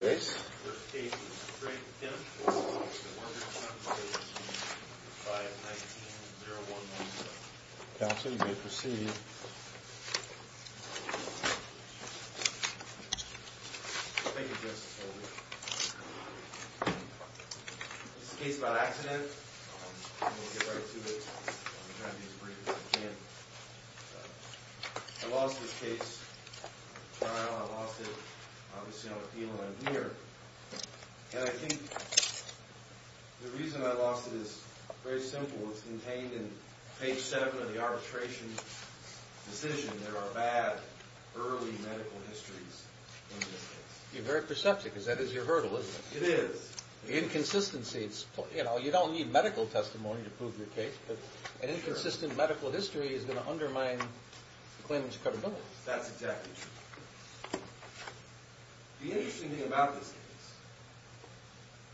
The first case is Drake v. The Workers' Compensation Commission, 5-19-0117. Counsel, you may proceed. Thank you, Justice Holder. This is a case about accident. I'm going to get right to it. I'm going to try to be as brief as I can. I lost this case in trial. I lost it, obviously, on appeal and I'm here. And I think the reason I lost it is very simple. It's contained in page 7 of the arbitration decision. There are bad early medical histories in this case. You're very perceptive because that is your hurdle, isn't it? It is. The inconsistencies, you know, you don't need medical testimony to prove your case. An inconsistent medical history is going to undermine the claimant's credibility. That's exactly true. The interesting thing about this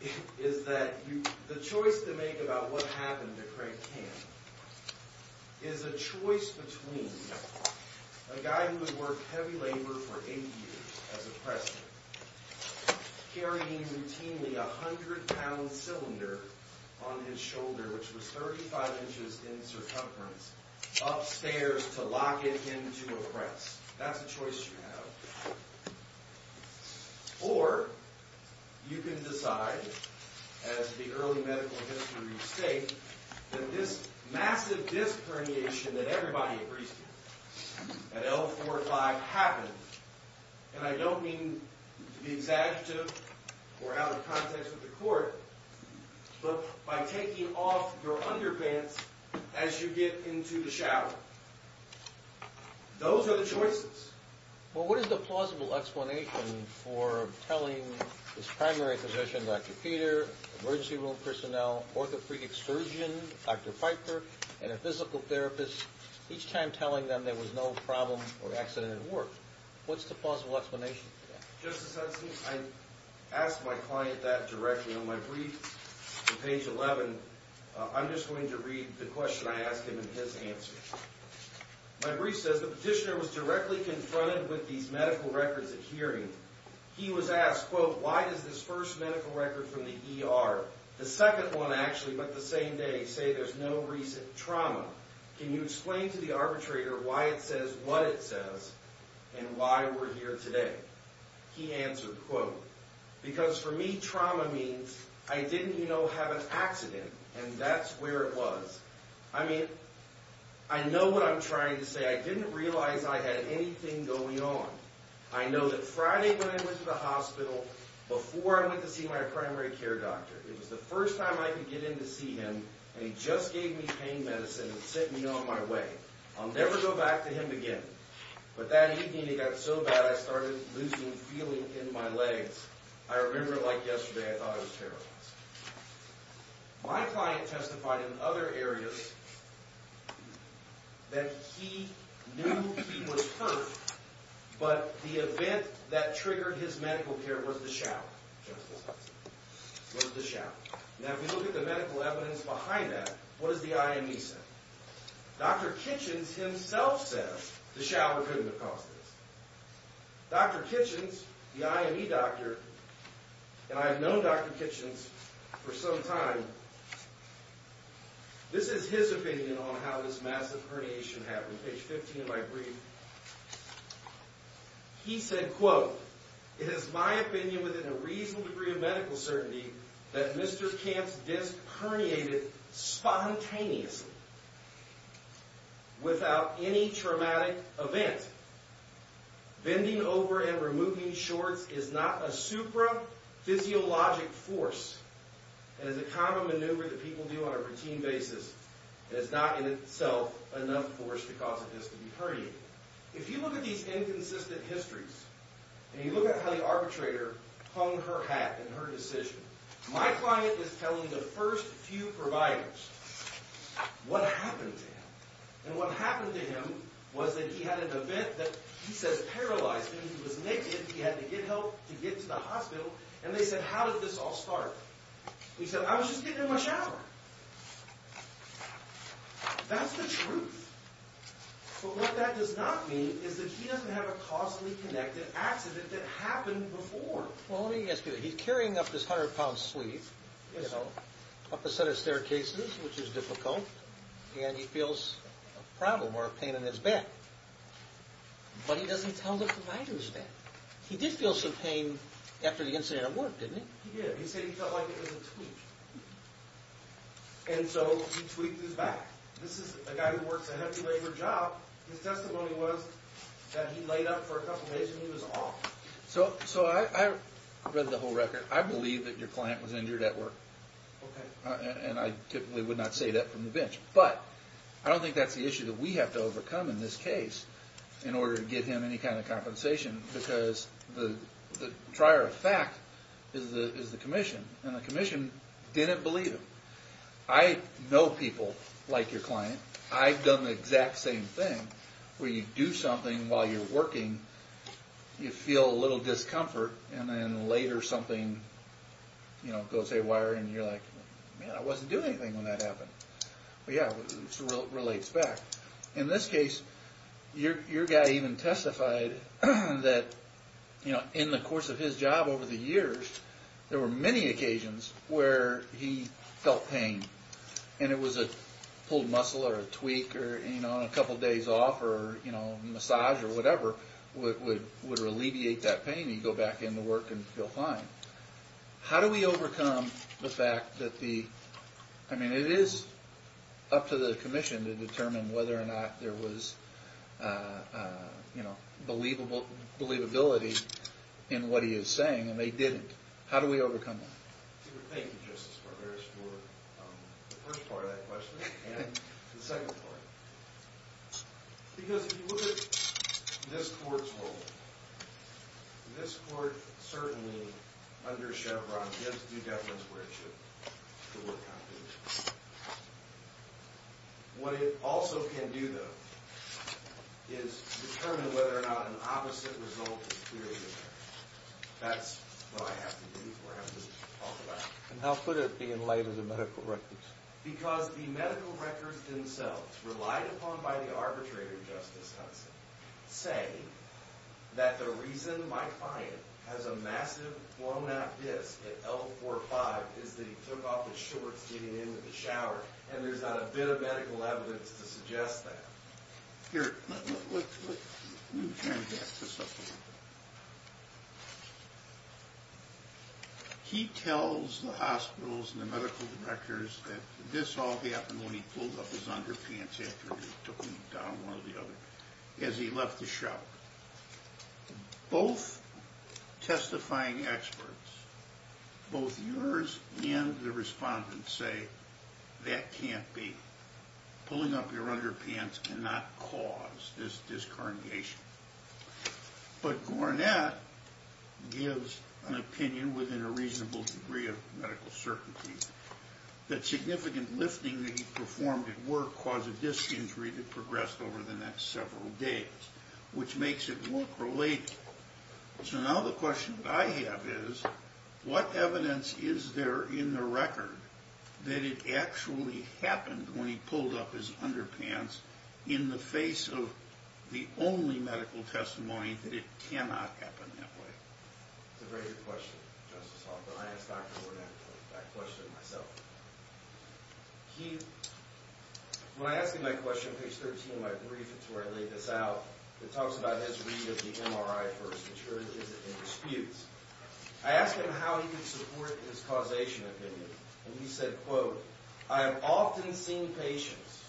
case is that the choice to make about what happened to Craig Kamp is a choice between a guy who had worked heavy labor for eight years as a pressman, carrying routinely a 100-pound cylinder on his shoulder, which was 35 inches in circumference, upstairs to lock it into a press. That's a choice you have. Or you can decide, as the early medical history states, that this massive disc herniation that everybody agrees to, at L45, happened, and I don't mean to be exaggerative or out of context with the court, but by taking off your underpants as you get into the shower. Those are the choices. Well, what is the plausible explanation for telling this primary physician, Dr. Peter, emergency room personnel, orthopedic surgeon, Dr. Pfeiffer, and a physical therapist, each time telling them there was no problem or accident at work? What's the plausible explanation for that? Justice Hudson, I asked my client that directly on my brief on page 11. I'm just going to read the question I asked him and his answer. My brief says, the petitioner was directly confronted with these medical records at hearing. He was asked, quote, why does this first medical record from the ER, the second one, actually, but the same day, say there's no recent trauma? Can you explain to the arbitrator why it says what it says and why we're here today? He answered, quote, because for me, trauma means I didn't, you know, have an accident, and that's where it was. I mean, I know what I'm trying to say. I didn't realize I had anything going on. I know that Friday when I went to the hospital, before I went to see my primary care doctor, it was the first time I could get in to see him, and he just gave me pain medicine and sent me on my way. I'll never go back to him again. But that evening, it got so bad, I started losing feeling in my legs. I remember it like yesterday. I thought I was paralyzed. My client testified in other areas that he knew he was hurt, but the event that triggered his medical care was the shower, was the shower. Now, if you look at the medical evidence behind that, what does the IME say? Dr. Kitchens himself said the shower couldn't have caused this. Dr. Kitchens, the IME doctor, and I've known Dr. Kitchens for some time, this is his opinion on how this massive herniation happened. On page 15 of my brief, he said, quote, it is my opinion within a reasonable degree of medical certainty that Mr. Camp's disc herniated spontaneously without any traumatic event. Bending over and removing shorts is not a supraphysiologic force. It is a common maneuver that people do on a routine basis. It is not in itself enough force to cause this to be herniated. If you look at these inconsistent histories, and you look at how the arbitrator hung her hat in her decision, my client is telling the first few providers what happened to him. And what happened to him was that he had an event that he says paralyzed him. He was naked. He had to get help to get to the hospital. And they said, how did this all start? He said, I was just getting in my shower. That's the truth. But what that does not mean is that he doesn't have a causally connected accident that happened before. Well, let me ask you, he's carrying up this 100-pound sleeve, you know, up a set of staircases, which is difficult, and he feels a problem or a pain in his back. But he doesn't tell the providers that. He did feel some pain after the incident at work, didn't he? He did. He said he felt like it was a tweak. And so he tweaked his back. This is a guy who works a heavy labor job. His testimony was that he laid up for a couple days and he was off. So I read the whole record. I believe that your client was injured at work. And I typically would not say that from the bench. But I don't think that's the issue that we have to overcome in this case in order to get him any kind of compensation, because the trier of fact is the commission. And the commission didn't believe him. I know people like your client. I've done the exact same thing, where you do something while you're working, you feel a little discomfort, and then later something, you know, goes haywire, and you're like, man, I wasn't doing anything when that happened. But, yeah, it relates back. In this case, your guy even testified that, you know, in the course of his job over the years, there were many occasions where he felt pain. And it was a pulled muscle or a tweak or, you know, on a couple days off or, you know, massage or whatever would alleviate that pain. He'd go back into work and feel fine. How do we overcome the fact that the, I mean, it is up to the commission to determine whether or not there was, you know, believability in what he is saying, and they didn't. How do we overcome that? Thank you, Justice Barberos, for the first part of that question, and the second part. Because if you look at this court's role, this court certainly under Chevron gives due deference where it should. What it also can do, though, is determine whether or not an opposite result is clearly there. That's what I have to do, what I have to talk about. And how could it be in light of the medical records? Because the medical records themselves, relied upon by the arbitrator, Justice Hudson, say that the reason my client has a massive blown-out disc at L45 is that he took off his shorts getting into the shower, and there's not a bit of medical evidence to suggest that. Here, let me turn this up a little bit. He tells the hospitals and the medical directors that this all happened when he pulled up his underpants after he took them down one or the other, as he left the shower. Both testifying experts, both yours and the respondent's, say that can't be. Pulling up your underpants cannot cause this disc herniation. But Gornett gives an opinion within a reasonable degree of medical certainty that significant lifting that he performed at work caused a disc injury that progressed over the next several days, which makes it look related. So now the question that I have is, what evidence is there in the record that it actually happened when he pulled up his underpants in the face of the only medical testimony that it cannot happen that way? It's a very good question, Justice Hoffman. I asked Dr. Gornett that question myself. When I asked him that question, page 13 of my brief, it's where I laid this out, it talks about his read of the MRI for suturages and disputes. I asked him how he could support his causation opinion, and he said, quote, I have often seen patients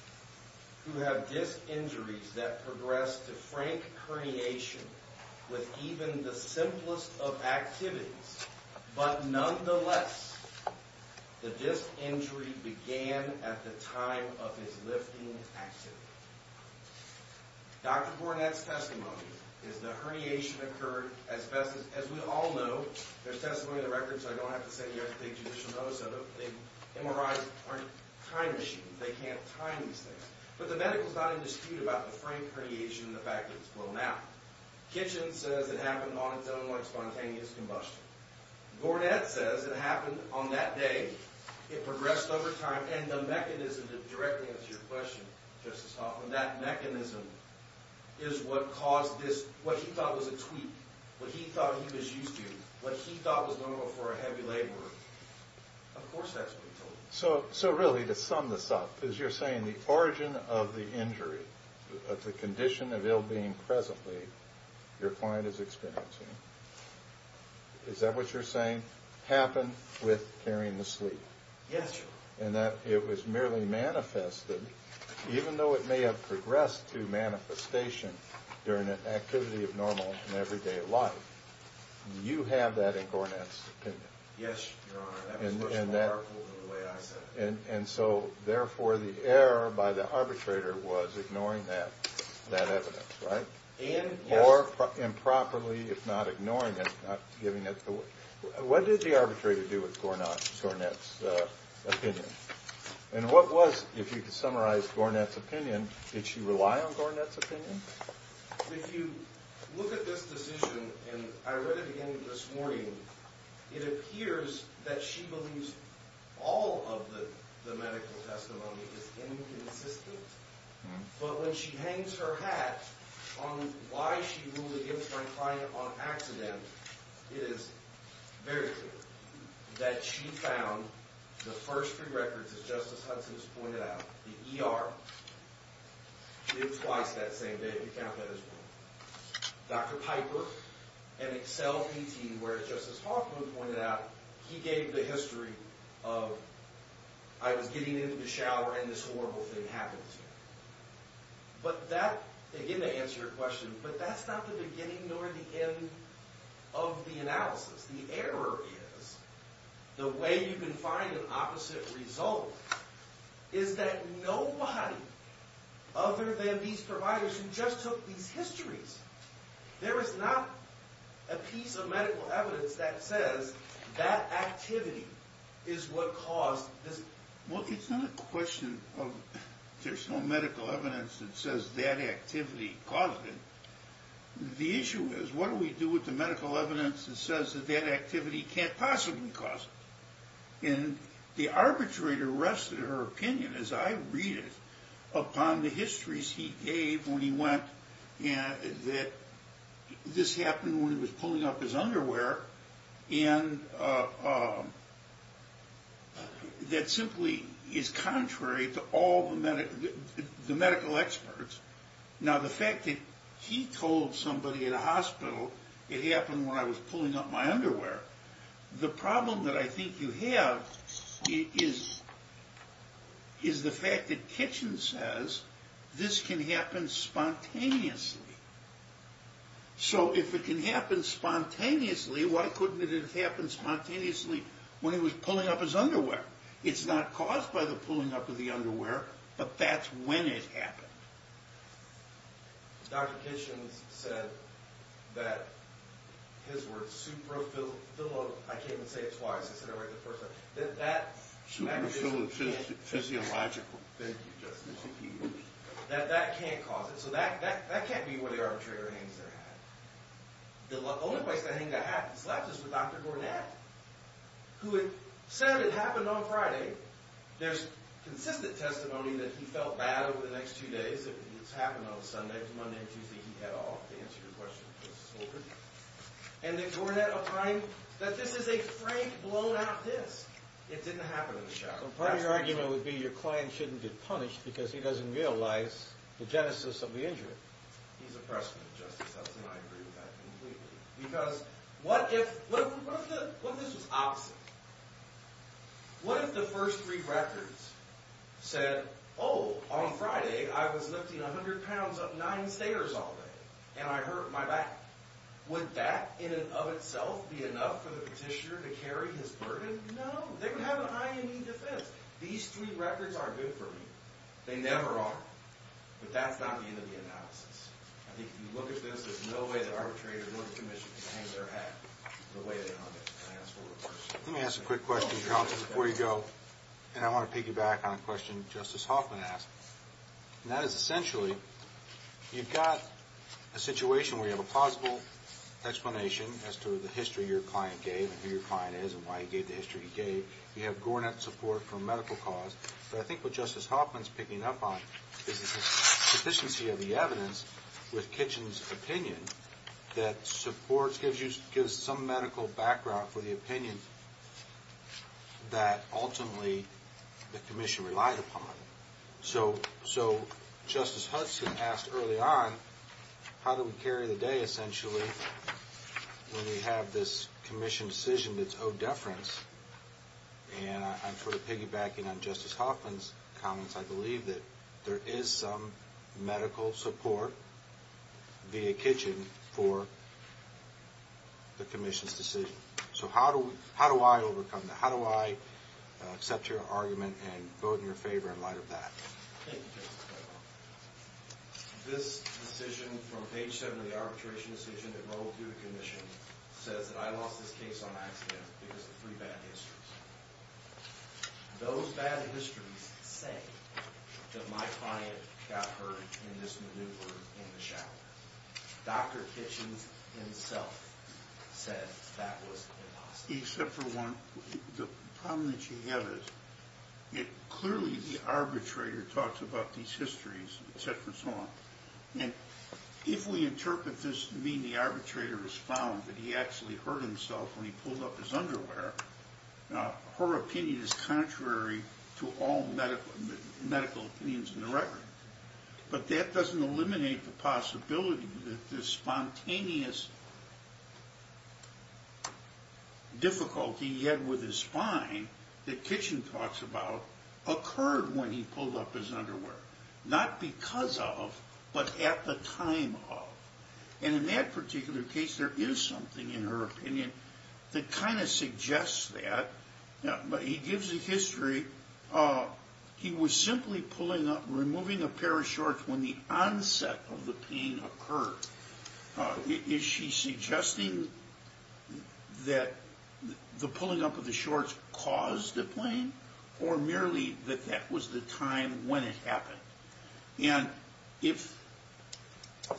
who have disc injuries that progress to frank herniation with even the simplest of activities. But nonetheless, the disc injury began at the time of his lifting activity. Dr. Gornett's testimony is the herniation occurred as best as we all know. There's testimony in the record, so I don't have to send you guys a big judicial notice of it. MRIs aren't time machines. They can't time these things. But the medical is not in dispute about the frank herniation and the fact that it's blown out. Kitchen says it happened on its own like spontaneous combustion. Gornett says it happened on that day. It progressed over time, and the mechanism to directly answer your question, Justice Hoffman, that mechanism is what caused this, what he thought was a tweak, what he thought he was used to, what he thought was normal for a heavy laborer. Of course that's what he told me. So really, to sum this up, as you're saying, the origin of the injury, of the condition of ill-being presently, your client is experiencing, is that what you're saying happened with carrying the sleep? Yes, Your Honor. And that it was merely manifested, even though it may have progressed to manifestation during an activity of normal in everyday life. Do you have that in Gornett's opinion? Yes, Your Honor. That was pushed in the article the way I said it. And so, therefore, the error by the arbitrator was ignoring that evidence, right? Yes. Or improperly, if not ignoring it, not giving it the way. What did the arbitrator do with Gornett's opinion? And what was, if you could summarize Gornett's opinion, did she rely on Gornett's opinion? If you look at this decision, and I read it again this morning, it appears that she believes all of the medical testimony is inconsistent. But when she hangs her hat on why she ruled the infant crying upon accident, it is very clear that she found the first three records, as Justice Hudson has pointed out, the ER, did twice that same day, if you count that as one. Dr. Piper and Excel PT, where, as Justice Hoffman pointed out, he gave the history of, I was getting into the shower and this horrible thing happened to me. But that, again, to answer your question, but that's not the beginning nor the end of the analysis. The error is, the way you can find an opposite result is that nobody other than these providers who just took these histories. There is not a piece of medical evidence that says that activity is what caused this. Well, it's not a question of there's no medical evidence that says that activity caused it. The issue is, what do we do with the medical evidence that says that that activity can't possibly cause it? And the arbitrator rested her opinion, as I read it, upon the histories he gave when he went, that this happened when he was pulling up his underwear, and that simply is contrary to all the medical experts. Now, the fact that he told somebody at a hospital it happened when I was pulling up my underwear, the problem that I think you have is the fact that Kitchens says this can happen spontaneously. So if it can happen spontaneously, why couldn't it have happened spontaneously when he was pulling up his underwear? It's not caused by the pulling up of the underwear, but that's when it happened. Dr. Kitchens said that his word, supraphyllophysiological, I can't even say it twice, that that can't cause it. So that can't be where the arbitrator hangs their hat. The only place I think that happens left is with Dr. Gornat, who had said it happened on Friday. There's consistent testimony that he felt bad over the next two days. It's happened on a Sunday. It's Monday and Tuesday. He got off to answer your question. And that Gornat opined that this is a frank, blown-out disc. It didn't happen in the shower. So part of your argument would be your client shouldn't get punished because he doesn't realize the genesis of the injury. He's a pressman, Justice Hudson. I agree with that completely. Because what if this was opposite? What if the first three records said, oh, on Friday I was lifting 100 pounds up nine stairs all day, and I hurt my back? Would that in and of itself be enough for the petitioner to carry his burden? No. They would have an IME defense. These three records aren't good for me. They never are. But that's not the end of the analysis. I think if you look at this, there's no way the arbitrator, nor the commission can hang their hat Let me ask a quick question, counsel, before you go. And I want to piggyback on a question Justice Hoffman asked. And that is, essentially, you've got a situation where you have a plausible explanation as to the history your client gave and who your client is and why he gave the history he gave. You have Gornat support for a medical cause. But I think what Justice Hoffman's picking up on is the sufficiency of the evidence with Kitchen's opinion that supports, gives some medical background for the opinion that, ultimately, the commission relied upon. So Justice Hudson asked early on, how do we carry the day, essentially, when we have this commission decision that's owed deference? And I'm sort of piggybacking on Justice Hoffman's comments. I believe that there is some medical support via Kitchen for the commission's decision. So how do I overcome that? How do I accept your argument and vote in your favor in light of that? Thank you, Justice Hoffman. This decision from page 7 of the arbitration decision that rolled through the commission says that I lost this case on accident because of three bad histories. Those bad histories say that my client got hurt in this maneuver in the shower. Dr. Kitchen himself said that was impossible. Except for one. The problem that you have is clearly the arbitrator talks about these histories, et cetera, and so on. And if we interpret this to mean the arbitrator was found, that he actually hurt himself when he pulled up his underwear, her opinion is contrary to all medical opinions in the record. But that doesn't eliminate the possibility that this spontaneous difficulty he had with his spine that Kitchen talks about occurred when he pulled up his underwear. Not because of, but at the time of. And in that particular case, there is something in her opinion that kind of suggests that. He gives a history. He was simply pulling up, removing a pair of shorts when the onset of the pain occurred. Is she suggesting that the pulling up of the shorts caused the pain? Or merely that that was the time when it happened? And if,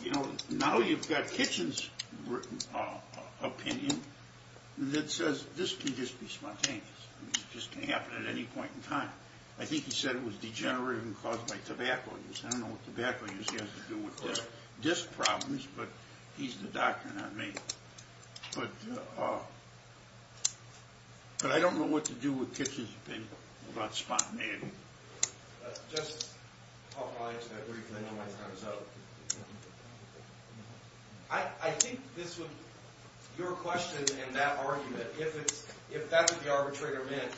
you know, now you've got Kitchen's opinion that says this can just be spontaneous. This can happen at any point in time. I think he said it was degenerative and caused by tobacco use. I don't know what tobacco use has to do with disc problems, but he's the doctor, not me. But I don't know what to do with Kitchen's opinion about spontaneity. Let's just talk about it briefly. I think this would... Your question and that argument, if that's what the arbitrator meant,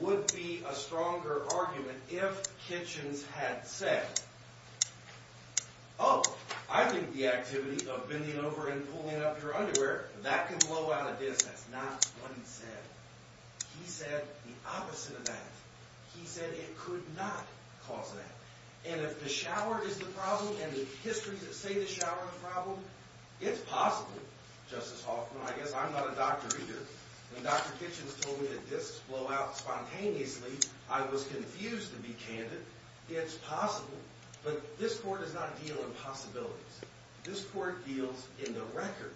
would be a stronger argument if Kitchen's had said, oh, I think the activity of bending over and pulling up your underwear, that can blow out a disc. That's not what he said. He said the opposite of that. He said it could not cause that. And if the shower is the problem and the histories that say the shower is the problem, it's possible. Justice Hoffman, I guess I'm not a doctor either. When Dr. Kitchen's told me that discs blow out spontaneously, I was confused to be candid. It's possible. But this court does not deal in possibilities. This court deals in the record.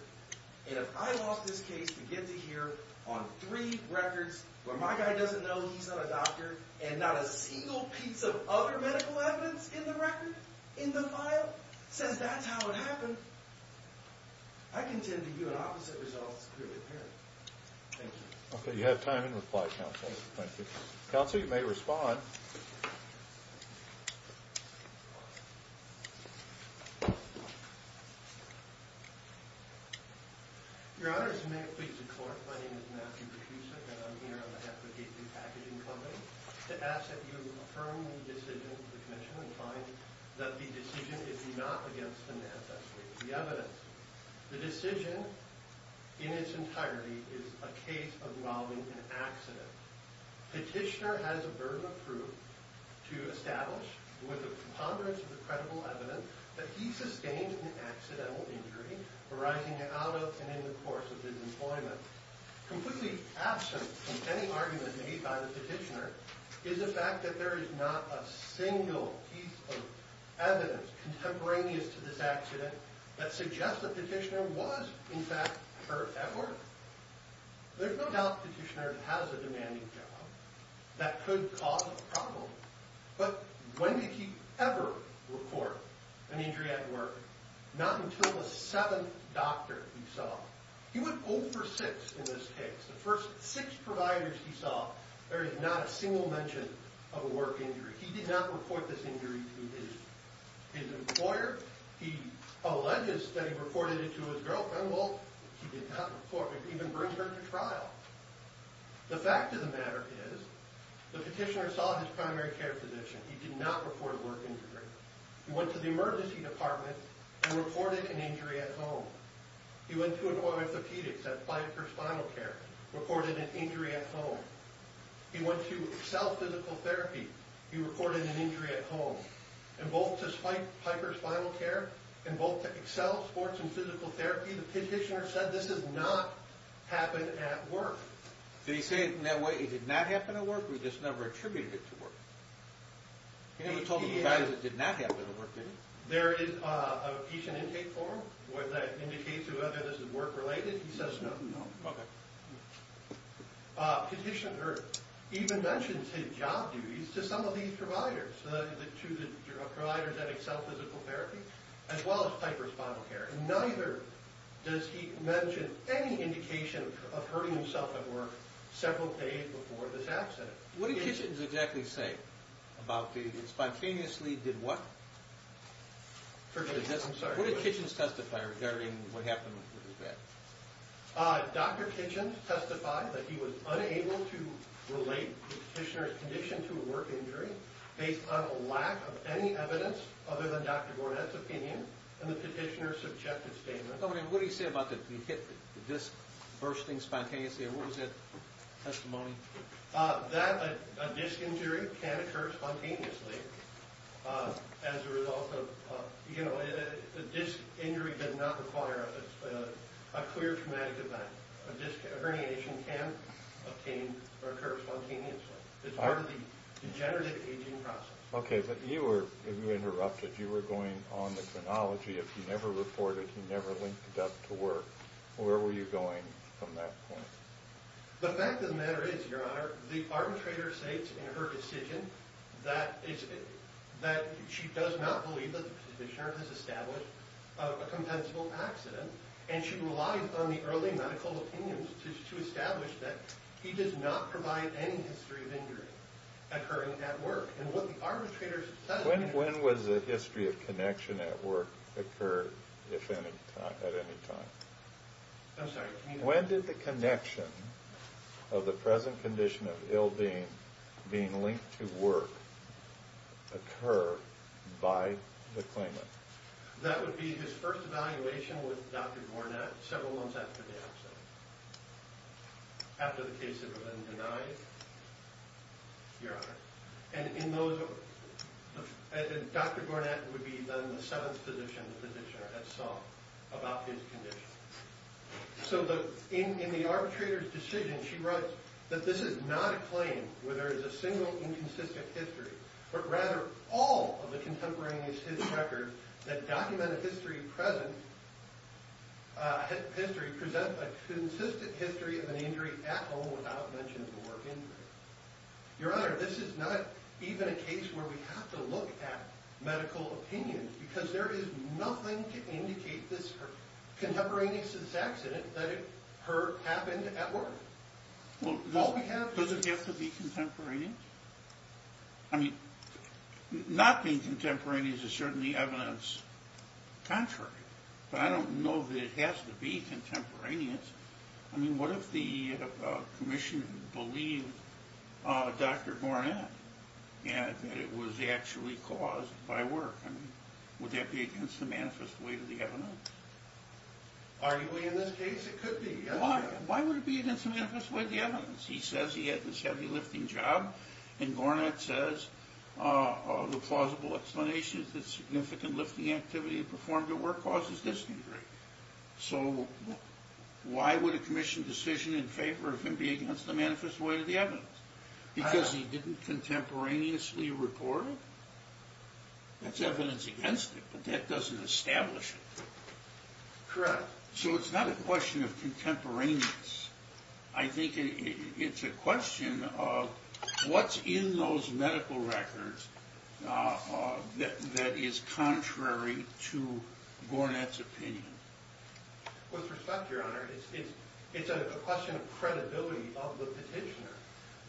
And if I lost this case to get to here on three records where my guy doesn't know he's not a doctor and not a single piece of other medical evidence in the record, in the file, says that's how it happened, I contend to view an opposite result as clearly apparent. Thank you. Okay, you have time to reply, counsel. Counsel, you may respond. Your Honor, as you may have pleaded to court, my name is Matthew Petrusek, and I'm here on behalf of the Gateway Packaging Company to ask that you affirm the decision of the commission and find that the decision is not against the NASDAQ suite. The evidence. The decision, in its entirety, is a case involving an accident. Petitioner has a burden of proof to establish, with the preponderance of the credible evidence, that he sustained an accidental injury arising out of and in the course of his employment. Completely absent from any argument made by the petitioner is the fact that there is not a single piece of evidence contemporaneous to this accident that suggests the petitioner was, in fact, hurt at work. There's no doubt the petitioner has a demanding job that could cause a problem, but when did he ever report an injury at work? Not until the seventh doctor he saw. He would go for six in this case. The first six providers he saw, there is not a single mention of a work injury. He did not report this injury to his employer. He alleges that he reported it to his girlfriend. Well, he did not report it. He didn't bring her to trial. The fact of the matter is the petitioner saw his primary care physician. He did not report a work injury. He went to the emergency department and reported an injury at home. He went to an orthopedic at Piper Spinal Care, reported an injury at home. He went to Excel Physical Therapy. He reported an injury at home. And both to Piper Spinal Care and both to Excel Sports and Physical Therapy, the petitioner said this did not happen at work. Did he say it in that way? It did not happen at work, or he just never attributed it to work? He never told the provider that it did not happen at work, did he? There is a patient intake form that indicates whether this is work-related. He says no. Petitioner even mentions his job duties to some of these providers, the two providers at Excel Physical Therapy as well as Piper Spinal Care. Neither does he mention any indication of hurting himself at work several days before this accident. What did Kitchens exactly say about this? Spontaneously did what? What did Kitchens testify regarding what happened with his back? Dr. Kitchens testified that he was unable to relate the petitioner's condition to a work injury based on a lack of any evidence other than Dr. Gornad's opinion in the petitioner's subjective statement. What did he say about the disc bursting spontaneously? What was that testimony? That a disc injury can occur spontaneously as a result of, you know, a disc injury does not require a clear traumatic event. A disc herniation can occur spontaneously. It's part of the degenerative aging process. Okay, but you were, if you interrupted, you were going on the chronology. If you never reported, you never linked it up to work. Where were you going from that point? The fact of the matter is, Your Honor, the arbitrator states in her decision that she does not believe that the petitioner has established a compensable accident, and she relies on the early medical opinions to establish that he does not provide any history of injury occurring at work. And what the arbitrator says... When was the history of connection at work occurred at any time? I'm sorry, can you repeat that? When did the connection of the present condition of ill being being linked to work occur by the claimant? That would be his first evaluation with Dr. Gornat several months after the accident, after the case had been denied, Your Honor. And in those... Dr. Gornat would be then the seventh physician the petitioner had sought about his condition. So in the arbitrator's decision, she writes that this is not a claim where there is a single inconsistent history, but rather all of the contemporaneous history records that document a history present... a consistent history of an injury at home without mention of a work injury. Your Honor, this is not even a case where we have to look at medical opinions because there is nothing to indicate this contemporaneous to this accident that it happened at work. Well, does it have to be contemporaneous? I mean, not being contemporaneous is certainly evidence contrary. But I don't know that it has to be contemporaneous. I mean, what if the commission believed Dr. Gornat that it was actually caused by work? I mean, would that be against the manifest weight of the evidence? Arguably, in this case, it could be. Why would it be against the manifest weight of the evidence? He says he had this heavy lifting job, and Gornat says the plausible explanation is that significant lifting activity performed at work causes this injury. So why would a commission decision in favor of him be against the manifest weight of the evidence? Because he didn't contemporaneously report it? That's evidence against it, but that doesn't establish it. Correct. So it's not a question of contemporaneous. I think it's a question of what's in those medical records that is contrary to Gornat's opinion. With respect, Your Honor, it's a question of credibility of the petitioner.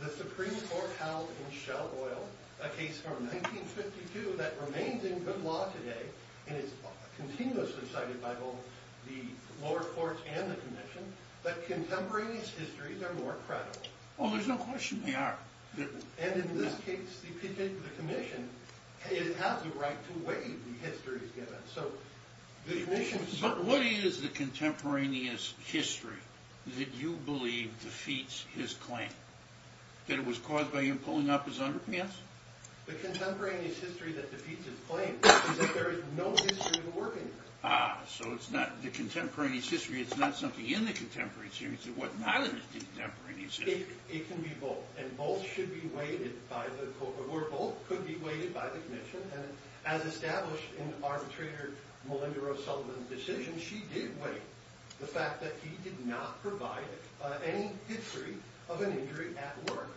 The Supreme Court held in Shell Oil, a case from 1952 that remains in good law today and is continuously cited by both the lower courts and the commission, that contemporaneous histories are more credible. Oh, there's no question they are. And in this case, the commission has the right to weigh the histories given. But what is the contemporaneous history that you believe defeats his claim? That it was caused by him pulling up his underpants? The contemporaneous history that defeats his claim is that there is no history of working there. Ah, so the contemporaneous history, it's not something in the contemporaneous history. What's not in the contemporaneous history? It can be both. And both should be weighted by the court. Or both could be weighted by the commission. And as established in the arbitrator, Melinda Rose Sullivan's decision, she did weigh the fact that he did not provide any history of an injury at work.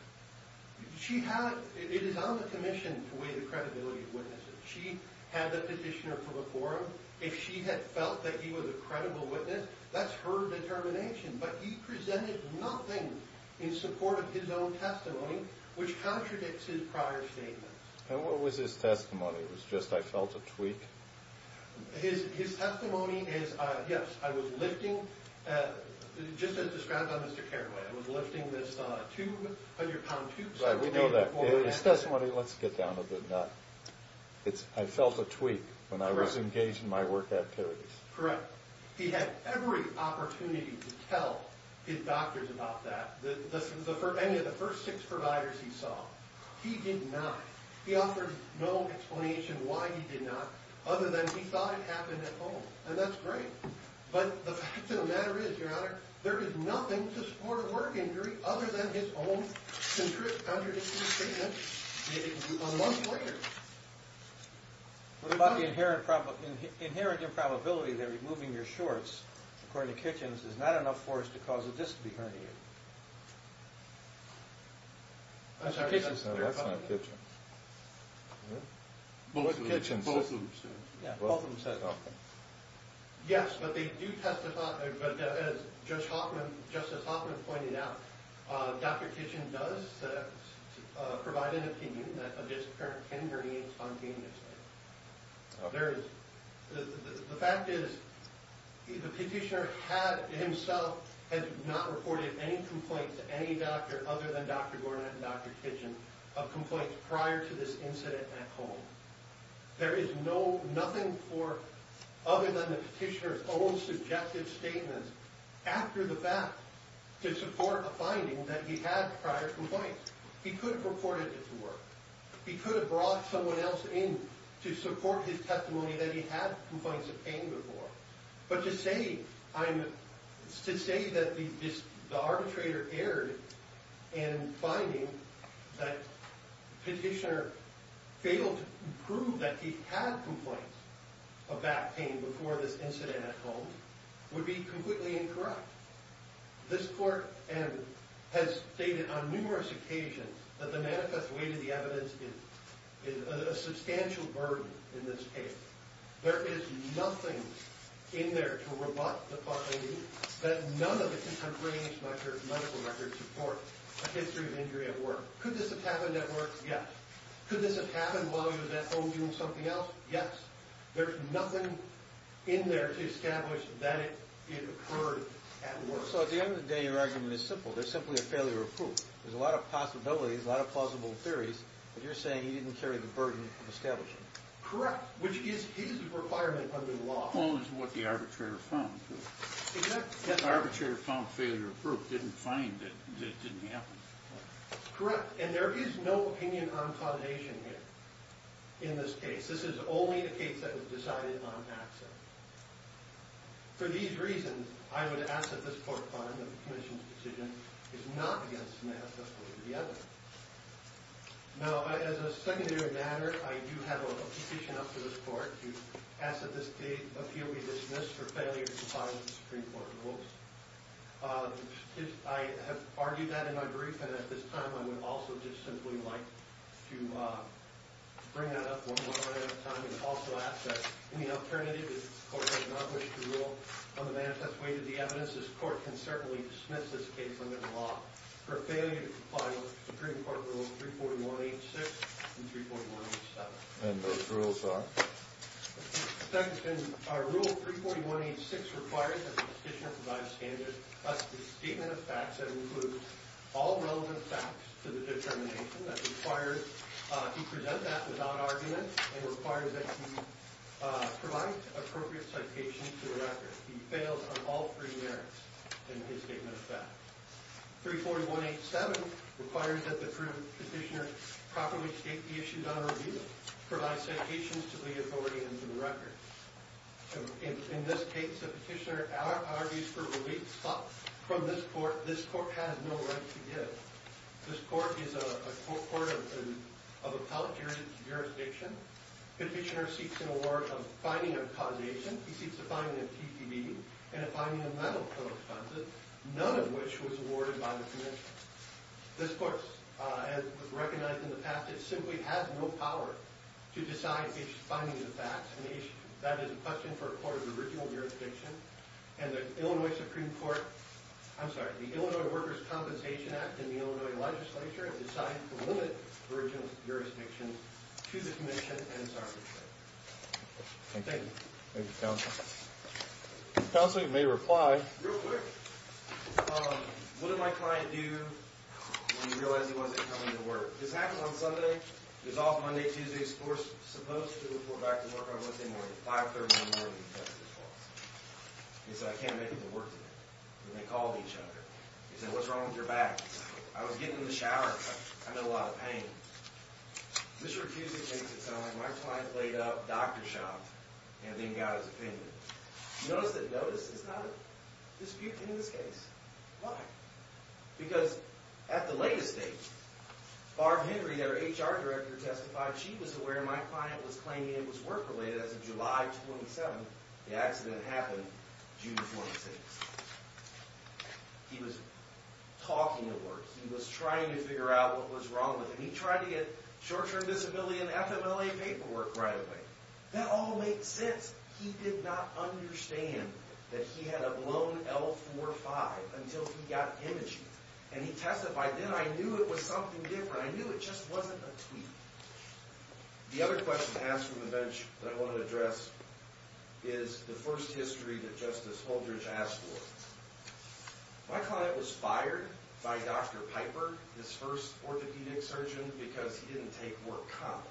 She had, it is on the commission to weigh the credibility of witnesses. She had the petitioner for the forum. If she had felt that he was a credible witness, that's her determination. But he presented nothing in support of his own testimony, which contradicts his prior statements. And what was his testimony? It was just, I felt a tweak? His testimony is, yes, I was lifting, just as described by Mr. Careway, I was lifting this 200 pound tube. Right, we know that. His testimony, let's get down to the nut. It's, I felt a tweak when I was engaged in my work activities. Correct. He had every opportunity to tell his doctors about that. Any of the first six providers he saw. He did not. He offered no explanation why he did not, other than he thought it happened at home. And that's great. But the fact of the matter is, Your Honor, there is nothing to support a work injury other than his own contradictory statements that he can do on a monthly basis. What about the inherent improbability that removing your shorts, according to Kitchens, is not enough for us to cause a disc to be herniated? That's what Kitchens said. No, that's not Kitchens. Both of them said it. Yeah, both of them said it. Yes, but they do testify, as Justice Hoffman pointed out, Dr. Kitchens does provide an opinion that a disc can herniate spontaneously. The fact is, the petitioner himself has not reported any complaints to any doctor other than Dr. Gornett and Dr. Kitchens of complaints prior to this incident at home. There is nothing for, other than the petitioner's own subjective statements, after the fact, to support a finding that he had prior complaints. He could have reported it to work. He could have brought someone else in to support his testimony that he had complaints of pain before. But to say that the arbitrator erred in finding that the petitioner failed to prove that he had complaints of back pain before this incident at home would be completely incorrect. This court has stated on numerous occasions that the manifest weight of the evidence is a substantial burden in this case. There is nothing in there to rebut the finding that none of the contravenous medical records support a history of injury at work. Could this have happened at work? Yes. Could this have happened while he was at home doing something else? Yes. There's nothing in there to establish that it occurred at work. So at the end of the day, your argument is simple. There's simply a failure of proof. There's a lot of possibilities, a lot of plausible theories, but you're saying he didn't carry the burden of establishing it. Correct, which is his requirement under the law. As opposed to what the arbitrator found. The arbitrator found failure of proof, didn't find that it didn't happen. Correct, and there is no opinion on causation here in this case. This is only a case that was decided on access. For these reasons, I would ask that this court find that the commission's decision is not against the manifest weight of the evidence. Now, as a secondary matter, I do have a petition up to this court to ask that this appeal be dismissed for failure to comply with the Supreme Court rules. I have argued that in my brief, and at this time, I would also just simply like to bring that up one more time and also ask that any alternative if the court does not wish to rule on the manifest weight of the evidence, this court can certainly dismiss this case under the law for failure to comply with Supreme Court rules 341.86 and 341.87. And those rules are? Second, our rule 341.86 requires that the petitioner provide a standard plus the statement of facts that includes all relevant facts to the determination that requires he present that without argument and requires that he provide appropriate citations to the record. He fails on all three merits in his statement of facts. 341.87 requires that the petitioner properly state the issues on review, provide citations to the authority and to the record. In this case, the petitioner argues for relief from this court. This court has no right to give. This court is a court of appellate jurisdiction. Petitioner seeks an award of finding of causation. He seeks a finding of TPB and a finding of mental co-responses, none of which was awarded by the commission. This court, as recognized in the past, it simply has no power to decide each finding of facts. And that is a question for a court of original jurisdiction. And the Illinois Supreme Court, I'm sorry, the Illinois Workers' Compensation Act in the Illinois legislature has decided to limit original jurisdiction to the commission and its arbitration. Thank you. Thank you, counsel. Counsel, you may reply. Real quick. What did my client do when he realized he wasn't coming to work? This happened on Sunday. He was off Monday, Tuesday. He was supposed to report back to work on Wednesday morning at 530 in the morning to test his pulse. He said, I can't make it to work today. And they called each other. He said, what's wrong with your back? I was getting in the shower. I'm in a lot of pain. Mr. Rikuzi makes it sound like my client laid up, doctor shopped, and then got his opinion. Notice that notice is not disputed in this case. Why? Because at the latest date, Barb Henry, their HR director, testified she was aware my client was claiming it was work-related. As of July 27, the accident happened June 26. He was talking at work. He was trying to figure out what was wrong with him. He tried to get short-term disability and FMLA paperwork right away. That all makes sense. He did not understand that he had a blown L45 until he got imaging. And he testified, then I knew it was something different. I knew it just wasn't a tweet. The other question asked from the bench that I want to address is the first history that Justice Holdridge asked for. My client was fired by Dr. Piper, his first orthopedic surgeon, because he didn't take work commonly.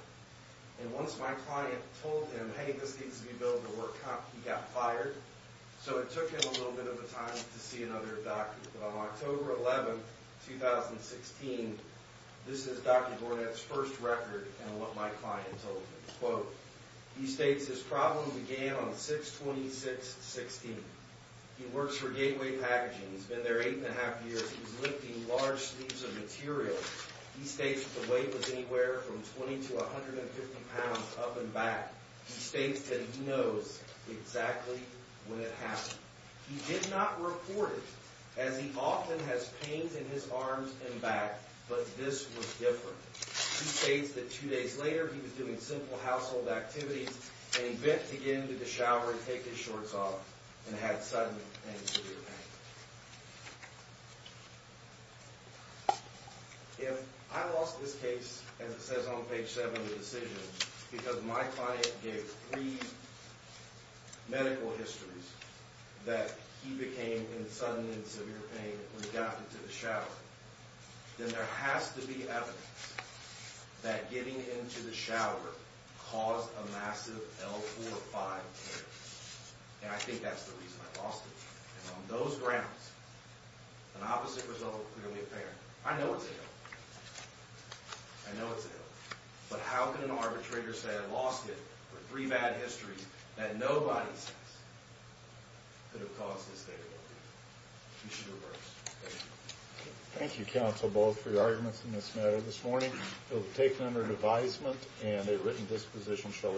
And once my client told him, hey, this needs to be built to work, he got fired. So it took him a little bit of time to see another doctor. But on October 11, 2016, this is Dr. Gornet's first record and what my client told him. Quote, he states, this problem began on 6-26-16. He works for Gateway Packaging. He's been there eight and a half years. He's lifting large sleeves of material. He states the weight was anywhere from 20 to 150 pounds up and back. He states that he knows exactly when it happened. He did not report it, as he often has pains in his arms and back. But this was different. He states that two days later, he was doing simple household activities and he bent to get into the shower and take his shorts off and had sudden and severe pain. If I lost this case, as it says on page 7 of the decision, because my client gave three medical histories that he became in sudden and severe pain when he got into the shower, then there has to be evidence that getting into the shower caused a massive L4-5 tear. And I think that's the reason I lost it. And on those grounds, an opposite result is clearly apparent. I know it's ill. I know it's ill. But how can an arbitrator say I lost it for three bad histories that nobody says could have caused this day to come? We should reverse. Thank you. Thank you, counsel, both, for your arguments in this matter this morning. It was taken under advisement and a written disposition shall remain.